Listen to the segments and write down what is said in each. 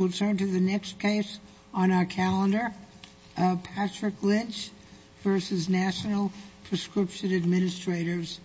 We'll turn to the next case on our calendar, Patrick Lynch v. National Prescription Administrators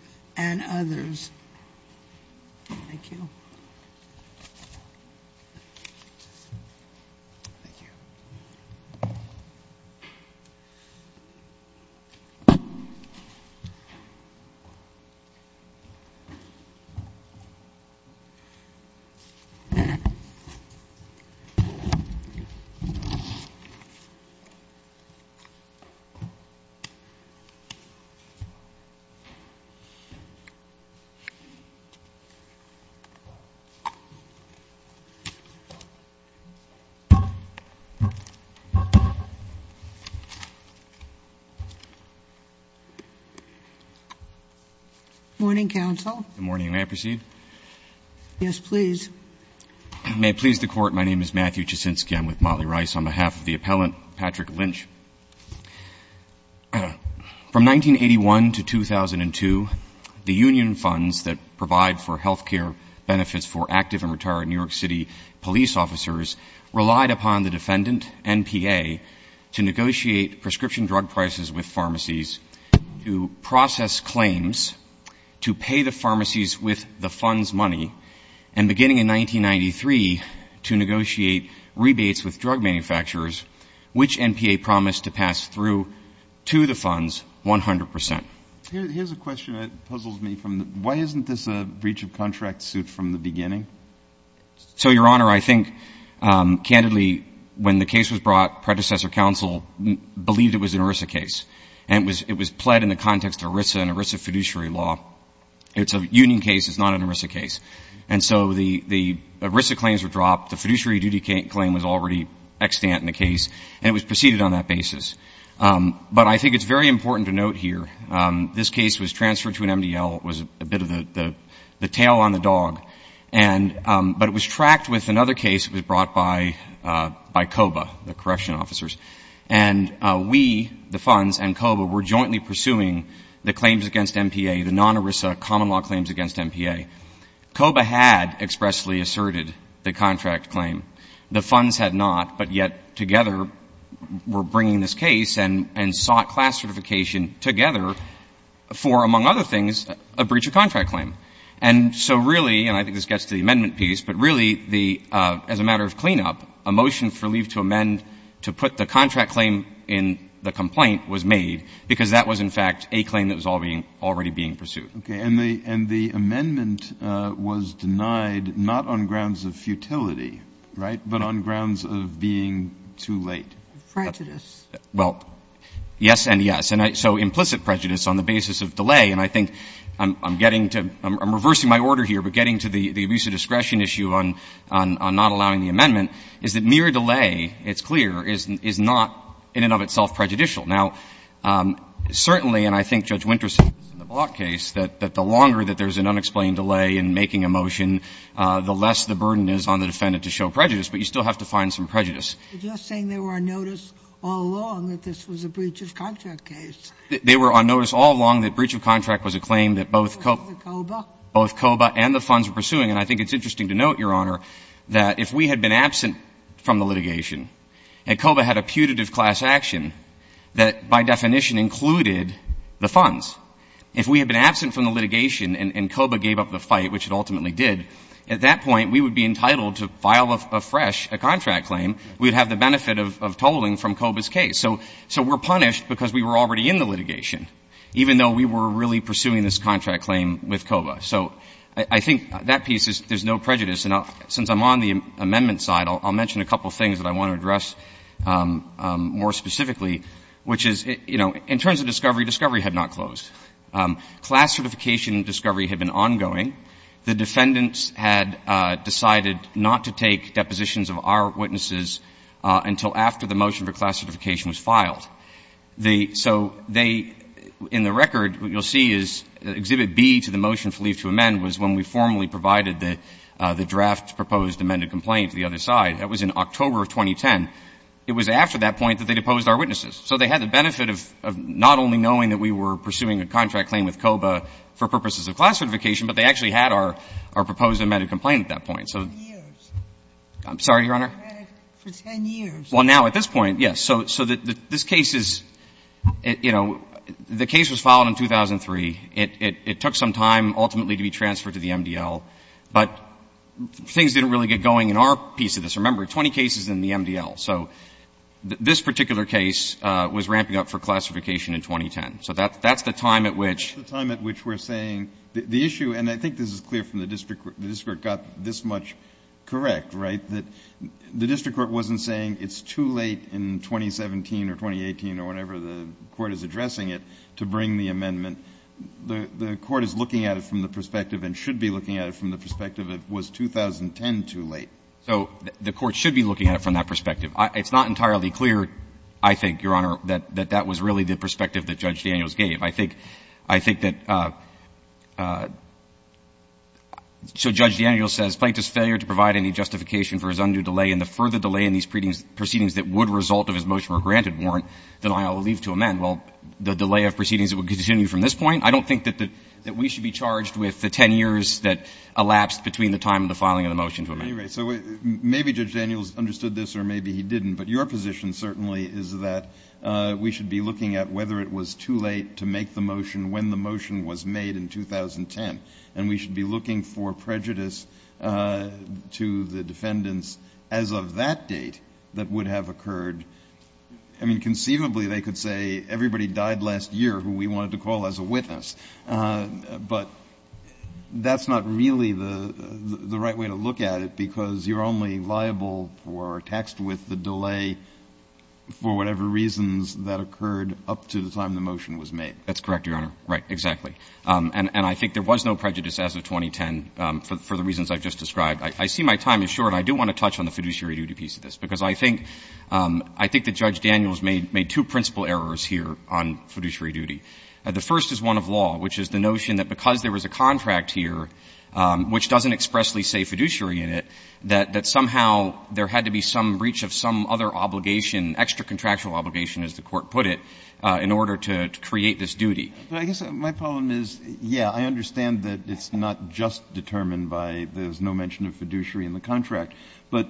Good morning, counsel. Good morning. May I proceed? Yes, please. May it please the Court, my name is Matthew Jasinski. I'm with Motley Rice on behalf of the appellant, Patrick Lynch. From 1981 to 2002, the union funds that provide for health care benefits for active and retired New York City police officers relied upon the defendant, NPA, to negotiate prescription drug prices with pharmacies, to process claims, to pay the pharmacies with the funds' money, and beginning in 1993, to negotiate rebates with drug manufacturers, which NPA promised to pay. Why isn't this a breach of contract suit from the beginning? So, Your Honor, I think, candidly, when the case was brought, predecessor counsel believed it was an ERISA case, and it was pled in the context of ERISA and ERISA fiduciary law. It's a union case, it's not an ERISA case. And so the ERISA claims were dropped, the fiduciary duty claim was already extant in the case, and it was preceded on that basis. But I think it's very important to note here, this case was transferred to an MDL, it was a bit of the tail on the dog. But it was tracked with another case that was brought by COBA, the correction officers. And we, the funds, and COBA were jointly pursuing the claims against NPA, the non-ERISA common law claims against NPA. COBA had expressly asserted the contract claim. The funds had not, but yet, together, were bringing this case and sought class certification together for, among other things, a breach of contract claim. And so really, and I think this gets to the amendment piece, but really, as a matter of cleanup, a motion for leave to amend to put the contract claim in the complaint was made, because that was, in fact, a claim that was already being pursued. And the amendment was denied not on grounds of futility, right, but on grounds of being too late. Prejudice. Well, yes and yes. And so implicit prejudice on the basis of delay, and I think I'm getting to, I'm reversing my order here, but getting to the abuse of discretion issue on not allowing the amendment, is that mere delay, it's clear, is not in and of itself prejudicial. Now, certainly, and I think Judge Winters is in the Block case, that the longer that there's an unexplained delay in making a motion, the less the burden is on the defendant to show prejudice, but you still have to find some prejudice. You're just saying they were on notice all along that this was a breach of contract case. They were on notice all along that breach of contract was a claim that both COBA and the funds were pursuing. And I think it's interesting to note, Your Honor, that if we had been absent from the litigation, and COBA had a putative class action, then we would not have had to go through that by definition included the funds. If we had been absent from the litigation and COBA gave up the fight, which it ultimately did, at that point we would be entitled to file afresh a contract claim, we would have the benefit of tolling from COBA's case. So we're punished because we were already in the litigation, even though we were really pursuing this contract claim with COBA. So I think that piece is there's no prejudice. And since I'm on the amendment side, I'll mention a couple of things that I want to address more specifically, which is, you know, in terms of discovery, discovery had not closed. Class certification discovery had been ongoing. The defendants had decided not to take depositions of our witnesses until after the motion for class certification was filed. So they, in the record, what you'll see is Exhibit B to the motion for leave to amend was when we formally provided the draft proposed amended complaint to the other side. That was in October of 2010. It was after that point that they deposed our witnesses. So they had the benefit of not only knowing that we were pursuing a contract claim with COBA for purposes of class certification, but they actually had our proposed amended complaint at that point. So I'm sorry, Your Honor. For 10 years. Well, now at this point, yes. So this case is, you know, the case was filed in 2003. It took some time ultimately to be transferred to the MDL, but things didn't really get going in our piece of this. Remember, 20 cases in the MDL. So this particular case was ramping up for classification in 2010. So that's the time at which. That's the time at which we're saying the issue, and I think this is clear from the district court, the district court got this much correct, right? That the district court wasn't saying it's too late in 2017 or 2018 or whenever the court is addressing it to bring the amendment. The court is looking at it from the perspective and should be looking at it from the perspective it was 2010 too late. So the court should be looking at it from that perspective. It's not entirely clear, I think, Your Honor, that that was really the perspective that Judge Daniels gave. I think that so Judge Daniels says plaintiff's failure to provide any justification for his undue delay and the further delay in these proceedings that would result of his motion were granted warrant that I will leave to amend. Well, the delay of proceedings that would continue from this point, I don't think that we should be charged with the 10 years that elapsed between the time of the filing of the motion to amend. Anyway, so maybe Judge Daniels understood this or maybe he didn't. But your position certainly is that we should be looking at whether it was too late to make the motion when the motion was made in 2010. And we should be looking for prejudice to the defendants as of that date that would have occurred. I mean, conceivably, they could say everybody died last year who we wanted to call as a witness. But that's not really the right way to look at it because you're only liable or taxed with the delay for whatever reasons that occurred up to the time the motion was made. That's correct, Your Honor. Right. Exactly. And I think there was no prejudice as of 2010 for the reasons I've just described. I see my time is short. I do want to touch on the fiduciary duty piece of this because I think the Judge Daniels made two principal errors here on fiduciary duty. The first is one of law, which is the notion that because there was a contract here, which doesn't expressly say fiduciary in it, that somehow there had to be some breach of some other obligation, extracontractual obligation, as the Court put it, in order to create this duty. But I guess my problem is, yeah, I understand that it's not just determined by there's no mention of fiduciary in the contract. But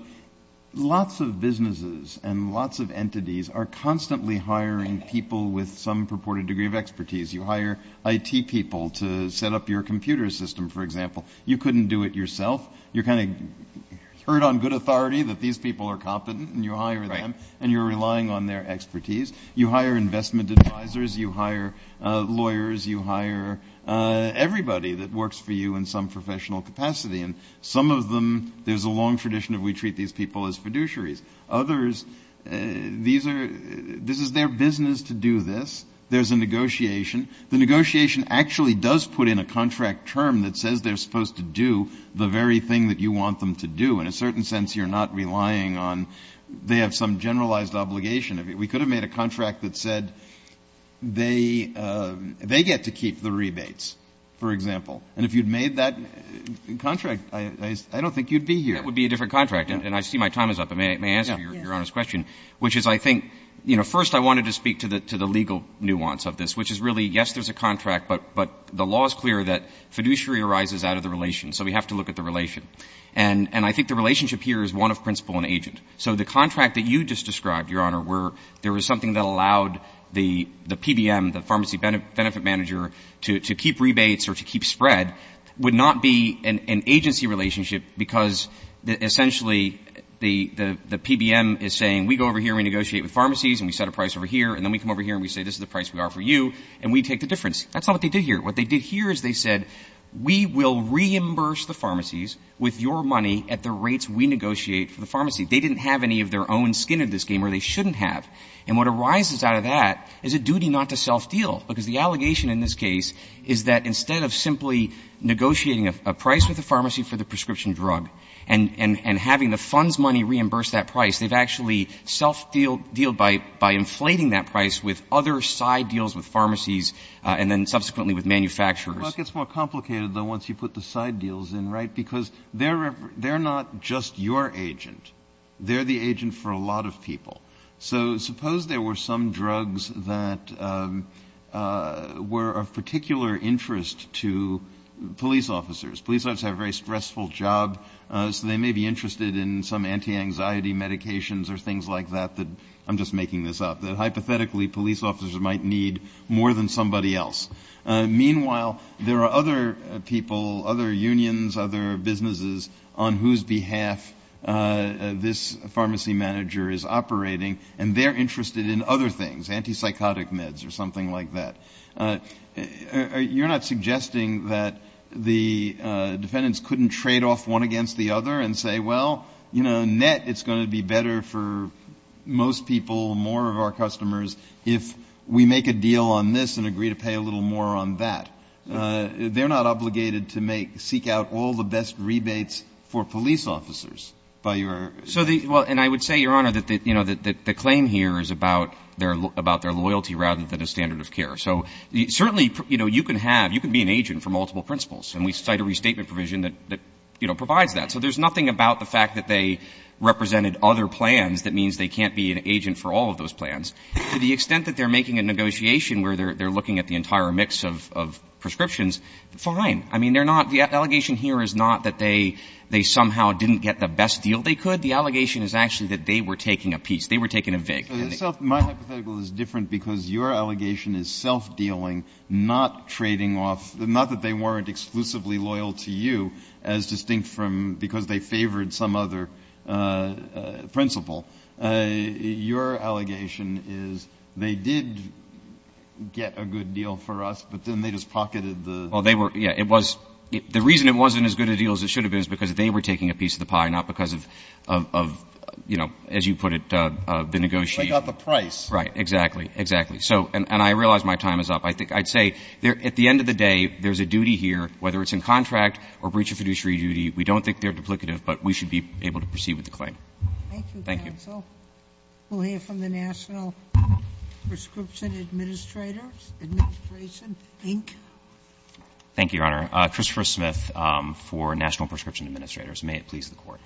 lots of businesses and lots of entities are constantly hiring people with some purported degree of expertise. You hire IT people to set up your computer system, for example. You couldn't do it yourself. You're kind of heard on good authority that these people are competent, and you hire them. Right. And you're relying on their expertise. You hire investment advisors. You hire lawyers. You hire everybody that works for you in some professional capacity. And some of them, there's a long tradition of we treat these people as fiduciaries. Others, these are, this is their business to do this. There's a negotiation. The negotiation actually does put in a contract term that says they're supposed to do the very thing that you want them to do. In a certain sense, you're not relying on, they have some generalized obligation. We could have made a contract that said they get to keep the rebates, for example. And if you'd made that contract, I don't think you'd be here. That would be a different contract. And I see my time is up. May I answer Your Honor's question, which is I think, you know, first I wanted to speak to the legal nuance of this, which is really, yes, there's a contract, but the law is clear that fiduciary arises out of the relation. So we have to look at the relation. And I think the relationship here is one of principle and agent. So the contract that you just described, Your Honor, where there was something that allowed the PBM, the pharmacy benefit manager, to keep rebates or to keep spread would not be an agency relationship because essentially the PBM is saying we go over here and we negotiate with pharmacies and we set a price over here and then we come over here and we say this is the price we offer you and we take the difference. That's not what they did here. What they did here is they said we will reimburse the pharmacies with your money at the rates we negotiate for the pharmacy. They didn't have any of their own skin in this game or they shouldn't have. And what arises out of that is a duty not to self-deal, because the allegation in this case is that instead of simply negotiating a price with the pharmacy for the prescription drug and having the fund's money reimburse that price, they've actually self-dealed by inflating that price with other side deals with pharmacies and then subsequently with manufacturers. Breyer. Well, it gets more complicated, though, once you put the side deals in, right? Because they're not just your agent. They're the agent for a lot of people. So suppose there were some drugs that were of particular interest to police officers. Police officers have a very stressful job, so they may be interested in some anti-anxiety medications or things like that. I'm just making this up. Hypothetically, police officers might need more than somebody else. Meanwhile, there are other people, other unions, other businesses on whose behalf this pharmacy manager is operating, and they're interested in other things, anti-psychotic meds or something like that. You're not suggesting that the defendants couldn't trade off one against the other and say, well, you know, net it's going to be better for most people, more of our customers, if we make a deal on this and agree to pay a little more on that. They're not obligated to make or seek out all the best rebates for police officers. Well, and I would say, Your Honor, that the claim here is about their loyalty rather than a standard of care. So certainly, you know, you can have, you can be an agent for multiple principles, and we cite a restatement provision that, you know, provides that. So there's nothing about the fact that they represented other plans that means they can't be an agent for all of those plans. To the extent that they're making a negotiation where they're looking at the entire mix of prescriptions, fine. I mean, they're not, the allegation here is not that they somehow didn't get the best deal they could. The allegation is actually that they were taking a piece, they were taking a VIG. My hypothetical is different because your allegation is self-dealing, not trading off, not that they weren't exclusively loyal to you as distinct from, because they favored some other principle. Your allegation is they did get a good deal for us, but then they just pocketed the. Well, they were, yeah, it was, the reason it wasn't as good a deal as it should have been is because they were taking a piece of the pie, not because of, you know, as you put it, the negotiation. They got the price. Right, exactly, exactly. So, and I realize my time is up. I'd say at the end of the day, there's a duty here, whether it's in contract or breach of fiduciary duty, we don't think they're duplicative, but we should be able to proceed with the claim. Thank you, counsel. Thank you. We'll hear from the National Prescription Administrators, Administration, Inc. Thank you, Your Honor. Christopher Smith for National Prescription Administrators. May it please the Court.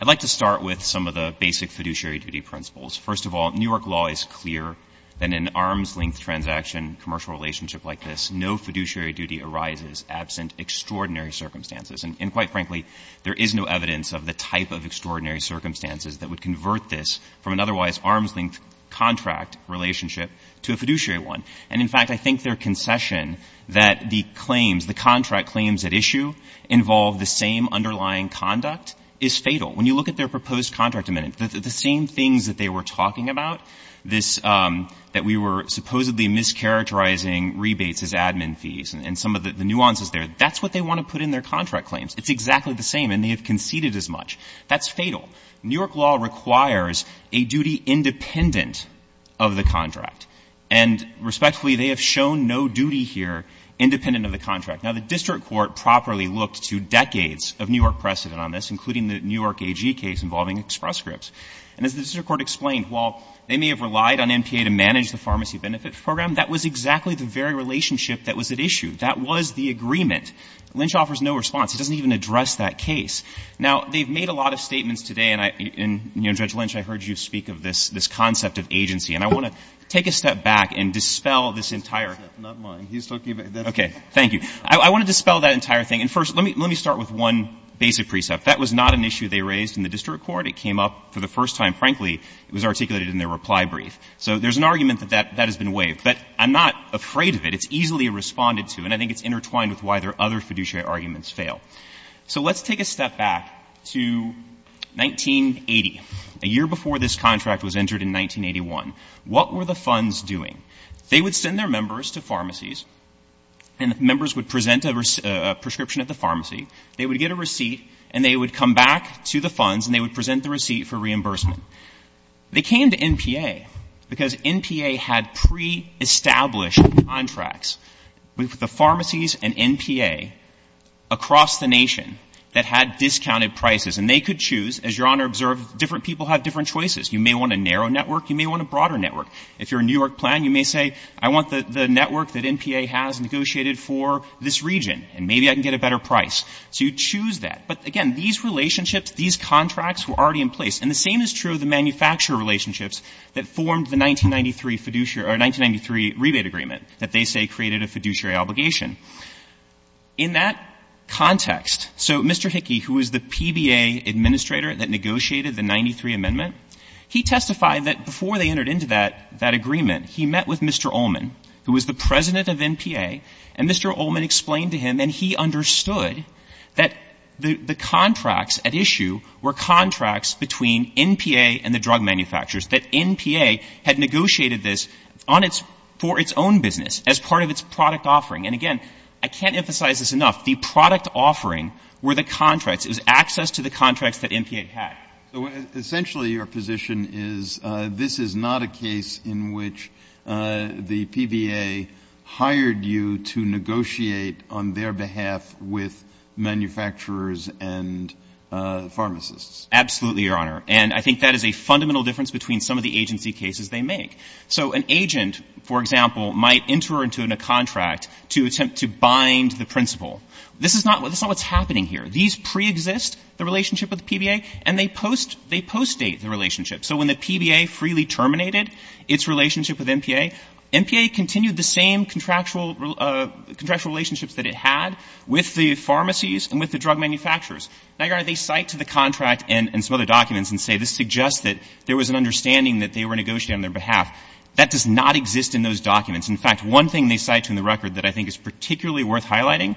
I'd like to start with some of the basic fiduciary duty principles. First of all, New York law is clear that in an arms-length transaction, commercial relationship like this, no fiduciary duty arises absent extraordinary circumstances. And quite frankly, there is no evidence of the type of extraordinary circumstances that would convert this from an otherwise arms-length contract relationship to a fiduciary one. And, in fact, I think their concession that the claims, the contract claims at issue, involve the same underlying conduct is fatal. When you look at their proposed contract amendment, the same things that they were talking about, that we were supposedly mischaracterizing rebates as admin fees and some of the nuances there, that's what they want to put in their contract claims. It's exactly the same, and they have conceded as much. That's fatal. New York law requires a duty independent of the contract. And respectfully, they have shown no duty here independent of the contract. Now, the district court properly looked to decades of New York precedent on this, including the New York AG case involving Express Scripts. And as the district court explained, while they may have relied on NPA to manage the pharmacy benefit program, that was exactly the very relationship that was at issue. That was the agreement. Lynch offers no response. He doesn't even address that case. Now, they've made a lot of statements today, and, Judge Lynch, I heard you speak of this concept of agency. And I want to take a step back and dispel this entire. Okay. Thank you. I want to dispel that entire thing. And first, let me start with one basic precept. That was not an issue they raised in the district court. It came up for the first time, frankly. It was articulated in their reply brief. So there's an argument that that has been waived. But I'm not afraid of it. It's easily responded to, and I think it's intertwined with why their other fiduciary arguments fail. So let's take a step back to 1980, a year before this contract was entered in 1981. What were the funds doing? They would send their members to pharmacies, and the members would present a prescription at the pharmacy. They would get a receipt, and they would come back to the funds, and they would present the receipt for reimbursement. They came to NPA because NPA had pre-established contracts with the pharmacies and NPA across the nation that had discounted prices. And they could choose, as Your Honor observed, different people have different choices. You may want a narrow network. You may want a broader network. If you're a New York plan, you may say, I want the network that NPA has negotiated for this region, and maybe I can get a better price. So you choose that. But, again, these relationships, these contracts were already in place. And the same is true of the manufacturer relationships that formed the 1993 fiduciary or 1993 rebate agreement that they say created a fiduciary obligation. In that context, so Mr. Hickey, who was the PBA administrator that negotiated the 93 amendment, he testified that before they entered into that agreement, he met with Mr. Ullman, who was the president of NPA, and Mr. Ullman explained to him, and he understood, that the contracts at issue were contracts between NPA and the drug manufacturers, that NPA had negotiated this on its — for its own business as part of its product offering. And, again, I can't emphasize this enough. The product offering were the contracts. It was access to the contracts that NPA had. So essentially your position is this is not a case in which the PBA hired you to negotiate on their behalf with manufacturers and pharmacists. Absolutely, Your Honor. And I think that is a fundamental difference between some of the agency cases they make. So an agent, for example, might enter into a contract to attempt to bind the principal. This is not — this is not what's happening here. These preexist the relationship with the PBA, and they post — they post-date the relationship. So when the PBA freely terminated its relationship with NPA, NPA continued the same contractual — contractual relationships that it had with the pharmacies and with the drug manufacturers. Now, Your Honor, they cite to the contract and some other documents and say this suggests that there was an understanding that they were negotiating on their behalf. That does not exist in those documents. In fact, one thing they cite to in the record that I think is particularly worth highlighting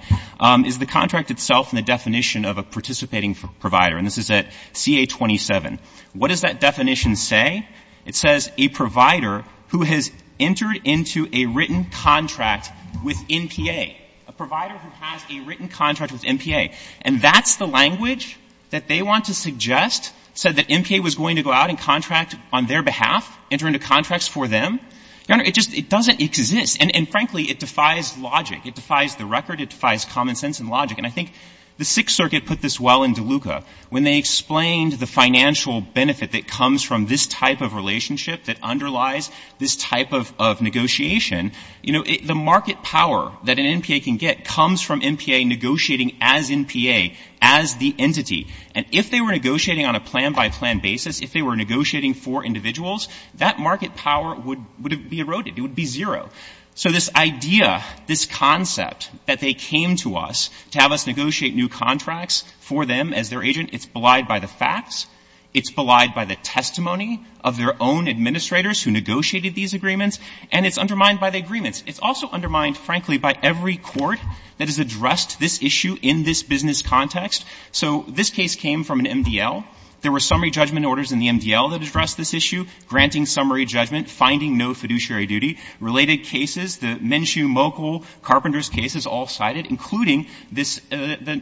is the contract itself and the definition of a participating provider. And this is at CA-27. What does that definition say? It says a provider who has entered into a written contract with NPA, a provider who has a written contract with NPA. And that's the language that they want to suggest, said that NPA was going to go out and contract on their behalf, enter into contracts for them? Your Honor, it just — it doesn't exist. And frankly, it defies logic. It defies the record. It defies common sense and logic. And I think the Sixth Circuit put this well in DeLuca. When they explained the financial benefit that comes from this type of relationship that underlies this type of negotiation, you know, the market power that an NPA can get comes from NPA negotiating as NPA, as the entity. And if they were negotiating on a plan-by-plan basis, if they were negotiating for individuals, that market power would be eroded. It would be zero. So this idea, this concept that they came to us to have us negotiate new contracts for them as their agent, it's belied by the facts, it's belied by the testimony of their own administrators who negotiated these agreements, and it's undermined by the agreements. It's also undermined, frankly, by every court that has addressed this issue in this business context. So this case came from an MDL. There were summary judgment orders in the MDL that addressed this issue, granting summary judgment, finding no fiduciary duty. Related cases, the Minshew, Mochul, Carpenters cases all cited, including this — the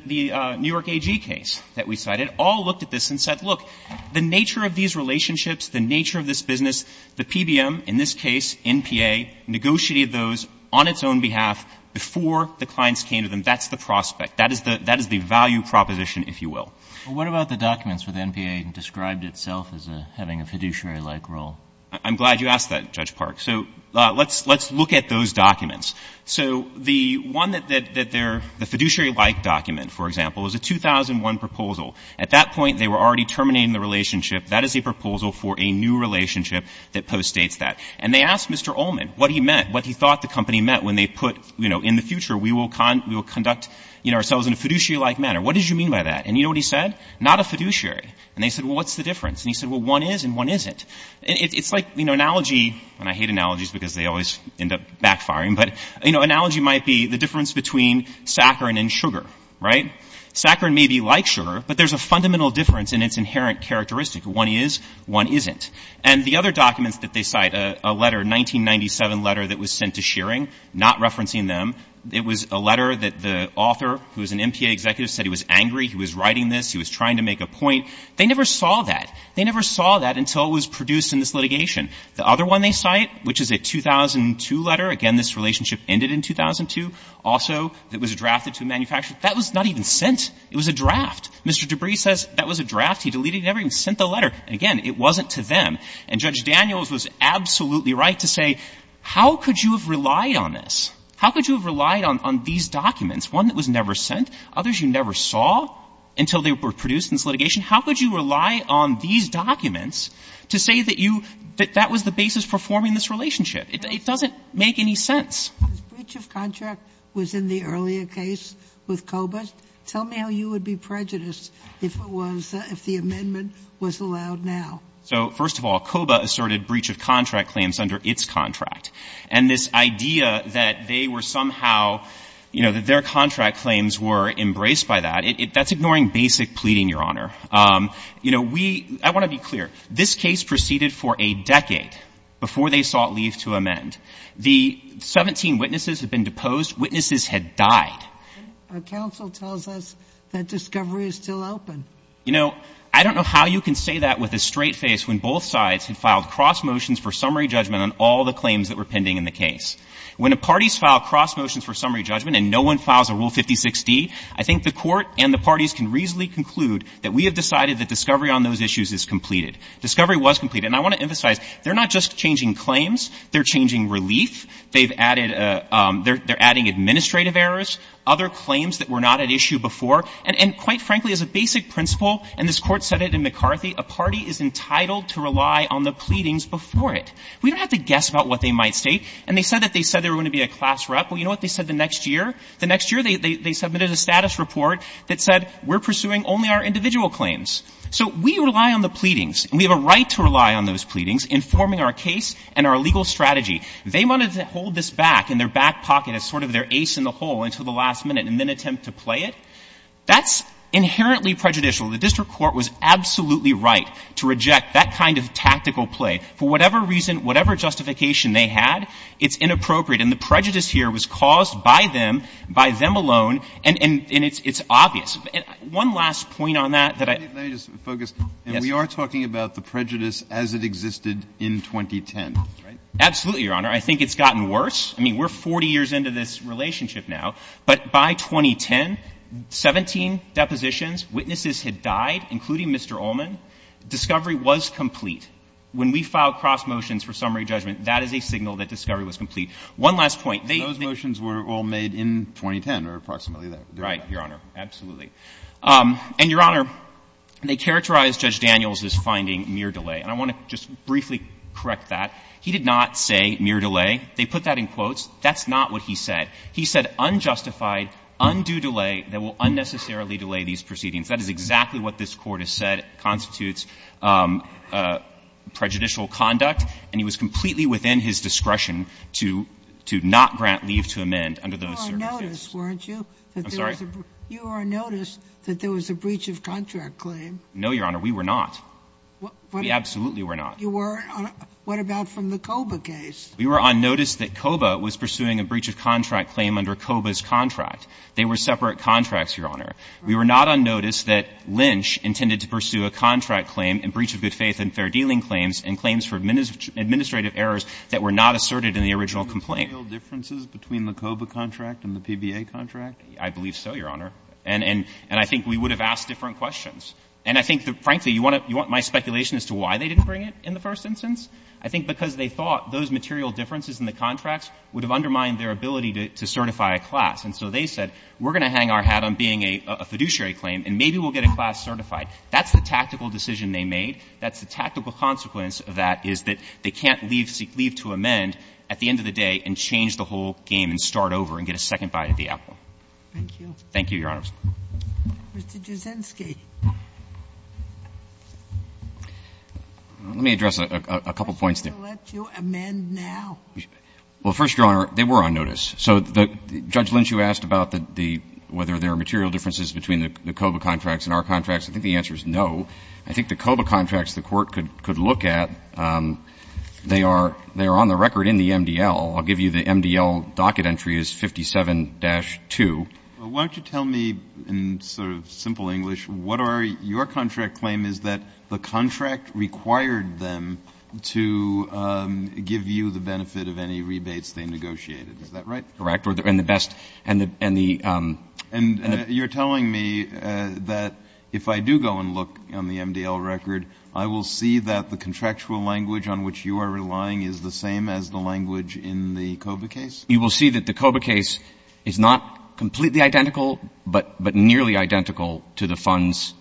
New York AG case that we cited, all looked at this and said, look, the nature of these relationships, the nature of this business, the PBM, in this case, NPA, negotiated those on its own behalf before the clients came to them. That's the prospect. That is the value proposition, if you will. Well, what about the documents where the NPA described itself as having a fiduciary-like role? I'm glad you asked that, Judge Park. So let's look at those documents. So the one that they're — the fiduciary-like document, for example, is a 2001 proposal. At that point, they were already terminating the relationship. That is a proposal for a new relationship that postdates that. And they asked Mr. Ullman what he meant, what he thought the company meant, when they put, you know, in the future, we will conduct ourselves in a fiduciary-like manner. What did you mean by that? And you know what he said? Not a fiduciary. And they said, well, what's the difference? And he said, well, one is and one isn't. It's like, you know, analogy — and I hate analogies because they always end up backfiring, but, you know, analogy might be the difference between saccharin and sugar, right? Saccharin may be like sugar, but there's a fundamental difference in its inherent characteristic. One is, one isn't. And the other documents that they cite, a letter, a 1997 letter that was sent to Shearing, not referencing them, it was a letter that the author, who was an MPA executive, said he was angry, he was writing this, he was trying to make a point. They never saw that. They never saw that until it was produced in this litigation. The other one they cite, which is a 2002 letter, again, this relationship ended in 2002, also, that was drafted to a manufacturer. That was not even sent. It was a draft. Mr. Debris says that was a draft. He deleted it. He never even sent the letter. And, again, it wasn't to them. And Judge Daniels was absolutely right to say, how could you have relied on this? How could you have relied on these documents, one that was never sent, others you never saw until they were produced in this litigation? How could you rely on these documents to say that you — that that was the basis for forming this relationship? It doesn't make any sense. The breach of contract was in the earlier case with Kobach. Tell me how you would be prejudiced if it was — if the amendment was allowed now. So, first of all, Kobach asserted breach of contract claims under its contract. And this idea that they were somehow — you know, that their contract claims were embraced by that, that's ignoring basic pleading, Your Honor. You know, we — I want to be clear. This case proceeded for a decade before they sought leave to amend. The 17 witnesses had been deposed. Witnesses had died. Our counsel tells us that discovery is still open. You know, I don't know how you can say that with a straight face when both sides had filed cross motions for summary judgment on all the claims that were pending in the case. When a party's filed cross motions for summary judgment and no one files a Rule 56D, I think the Court and the parties can reasonably conclude that we have decided that discovery on those issues is completed. Discovery was completed. And I want to emphasize, they're not just changing claims. They're changing relief. They've added a — they're adding administrative errors, other claims that were not at issue before. And quite frankly, as a basic principle, and this Court said it in McCarthy, a party is entitled to rely on the pleadings before it. We don't have to guess about what they might state. And they said that they said they were going to be a class rep. Well, you know what they said the next year? The next year, they submitted a status report that said we're pursuing only our individual claims. So we rely on the pleadings, and we have a right to rely on those pleadings in forming our case and our legal strategy. They wanted to hold this back in their back pocket as sort of their ace in the hole until the last minute and then attempt to play it? That's inherently prejudicial. The district court was absolutely right to reject that kind of tactical play. For whatever reason, whatever justification they had, it's inappropriate. And the prejudice here was caused by them, by them alone, and it's obvious. One last point on that that I — Breyer. Let me just focus. And we are talking about the prejudice as it existed in 2010, right? Absolutely, Your Honor. I think it's gotten worse. I mean, we're 40 years into this relationship now. But by 2010, 17 depositions, witnesses had died, including Mr. Ullman. Discovery was complete. When we filed cross motions for summary judgment, that is a signal that discovery was complete. One last point. Those motions were all made in 2010 or approximately that. Right, Your Honor. Absolutely. And, Your Honor, they characterized Judge Daniels' finding mere delay. And I want to just briefly correct that. He did not say mere delay. They put that in quotes. That's not what he said. He said unjustified, undue delay that will unnecessarily delay these proceedings. That is exactly what this Court has said constitutes prejudicial conduct. And he was completely within his discretion to not grant leave to amend under those circumstances. You were on notice, weren't you? I'm sorry? You were on notice that there was a breach of contract claim. No, Your Honor. We were not. We absolutely were not. You weren't? What about from the COBA case? We were on notice that COBA was pursuing a breach of contract claim under COBA's contract. They were separate contracts, Your Honor. We were not on notice that Lynch intended to pursue a contract claim in breach of good faith and fair dealing claims and claims for administrative errors that were not asserted in the original complaint. Were there real differences between the COBA contract and the PBA contract? I believe so, Your Honor. And I think we would have asked different questions. And I think, frankly, you want my speculation as to why they didn't bring it in the first instance? I think because they thought those material differences in the contracts would have undermined their ability to certify a class. And so they said, we're going to hang our hat on being a fiduciary claim and maybe we'll get a class certified. That's the tactical decision they made. That's the tactical consequence of that, is that they can't leave to amend at the end of the day and change the whole game and start over and get a second bite of the apple. Thank you. Thank you, Your Honors. Mr. Jasinsky. Let me address a couple points. Why should we let you amend now? Well, first, Your Honor, they were on notice. So Judge Lynch, you asked about whether there are material differences between the COBA contracts and our contracts. I think the answer is no. I think the COBA contracts the Court could look at, they are on the record in the MDL. I'll give you the MDL docket entry is 57-2. Well, why don't you tell me in sort of simple English, what are your contract claim is that the contract required them to give you the benefit of any rebates they negotiated. Is that right? Correct. And the best — And you're telling me that if I do go and look on the MDL record, I will see that the contractual language on which you are relying is the same as the language in the COBA case? You will see that the COBA case is not completely identical, but nearly identical to the funds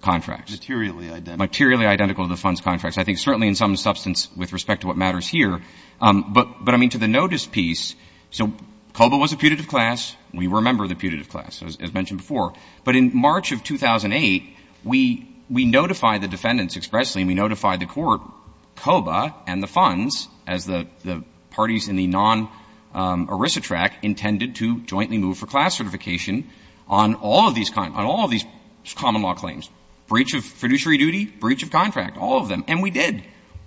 contracts. Materially identical. Materially identical to the funds contracts. I think certainly in some substance with respect to what matters here. But, I mean, to the notice piece, so COBA was a putative class. We were a member of the putative class, as mentioned before. But in March of 2008, we notified the defendants expressly, and we notified the intended to jointly move for class certification on all of these common law claims. Breach of fiduciary duty, breach of contract, all of them. And we did.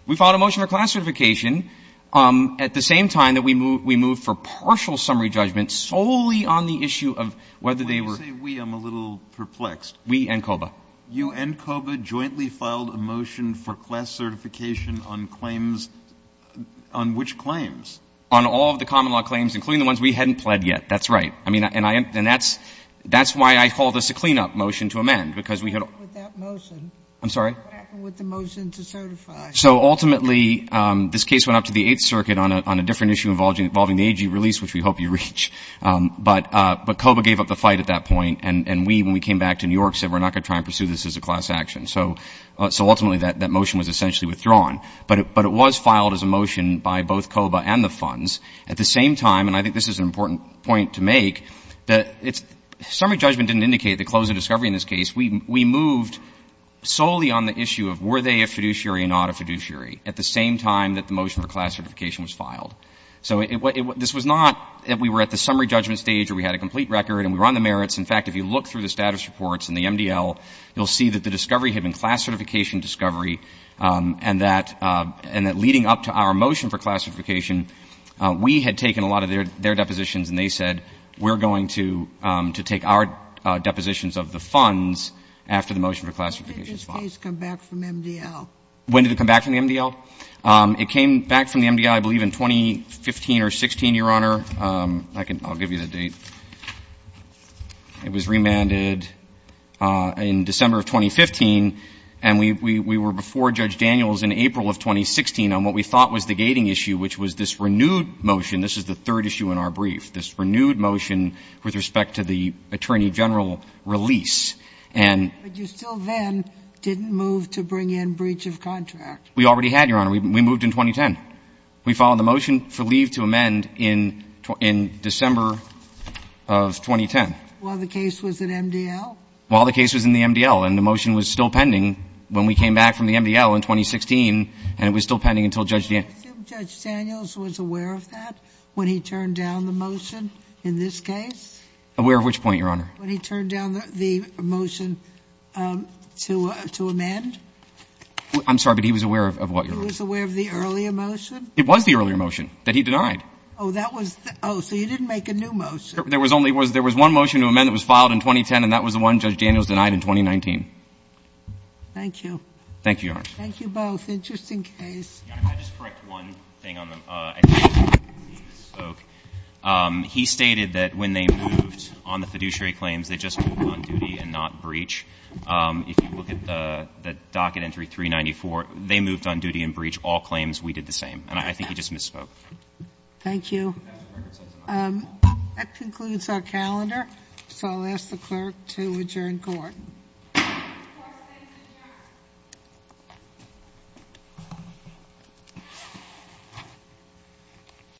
We filed a motion for class certification at the same time that we moved for partial summary judgment solely on the issue of whether they were — When you say we, I'm a little perplexed. We and COBA. You and COBA jointly filed a motion for class certification on claims — on which claims? On all of the common law claims, including the ones we hadn't pled yet. That's right. I mean, and that's why I called this a cleanup motion to amend, because we had — What happened with that motion? I'm sorry? What happened with the motion to certify? So ultimately, this case went up to the Eighth Circuit on a different issue involving the AG release, which we hope you reach. But COBA gave up the fight at that point, and we, when we came back to New York, said we're not going to try and pursue this as a class action. So ultimately, that motion was essentially withdrawn. But it was filed as a motion by both COBA and the funds at the same time, and I think this is an important point to make, that it's — summary judgment didn't indicate the close of discovery in this case. We moved solely on the issue of were they a fiduciary or not a fiduciary at the same time that the motion for class certification was filed. So this was not that we were at the summary judgment stage or we had a complete record and we were on the merits. In fact, if you look through the status reports and the MDL, you'll see that the discovery had been class certification discovery and that — and that leading up to our motion for class certification, we had taken a lot of their — their depositions and they said we're going to — to take our depositions of the funds after the motion for class certification is filed. When did this case come back from MDL? When did it come back from the MDL? It came back from the MDL, I believe, in 2015 or 16, Your Honor. I can — I'll give you the date. It was remanded in December of 2015. And we were before Judge Daniels in April of 2016 on what we thought was the gating issue, which was this renewed motion. This is the third issue in our brief, this renewed motion with respect to the attorney general release. And — But you still then didn't move to bring in breach of contract. We already had, Your Honor. We moved in 2010. We followed the motion for leave to amend in — in December of 2010. While the case was in MDL? While the case was in the MDL. And the motion was still pending when we came back from the MDL in 2016, and it was still pending until Judge — Do you assume Judge Daniels was aware of that when he turned down the motion in this case? Aware of which point, Your Honor? When he turned down the motion to — to amend? I'm sorry, but he was aware of what, Your Honor? He was aware of the earlier motion? It was the earlier motion that he denied. Oh, that was — oh, so he didn't make a new motion. There was only — there was one motion to amend that was filed in 2010, and that was the one Judge Daniels denied in 2019. Thank you. Thank you, Your Honor. Thank you both. Interesting case. Your Honor, if I could just correct one thing on the — I think it's easier to speak. He stated that when they moved on the fiduciary claims, they just moved on duty and not breach. If you look at the docket entry 394, they moved on duty and breach all claims. We did the same. And I think he just misspoke. Thank you. That concludes our calendar, so I'll ask the clerk to adjourn court. Court is adjourned.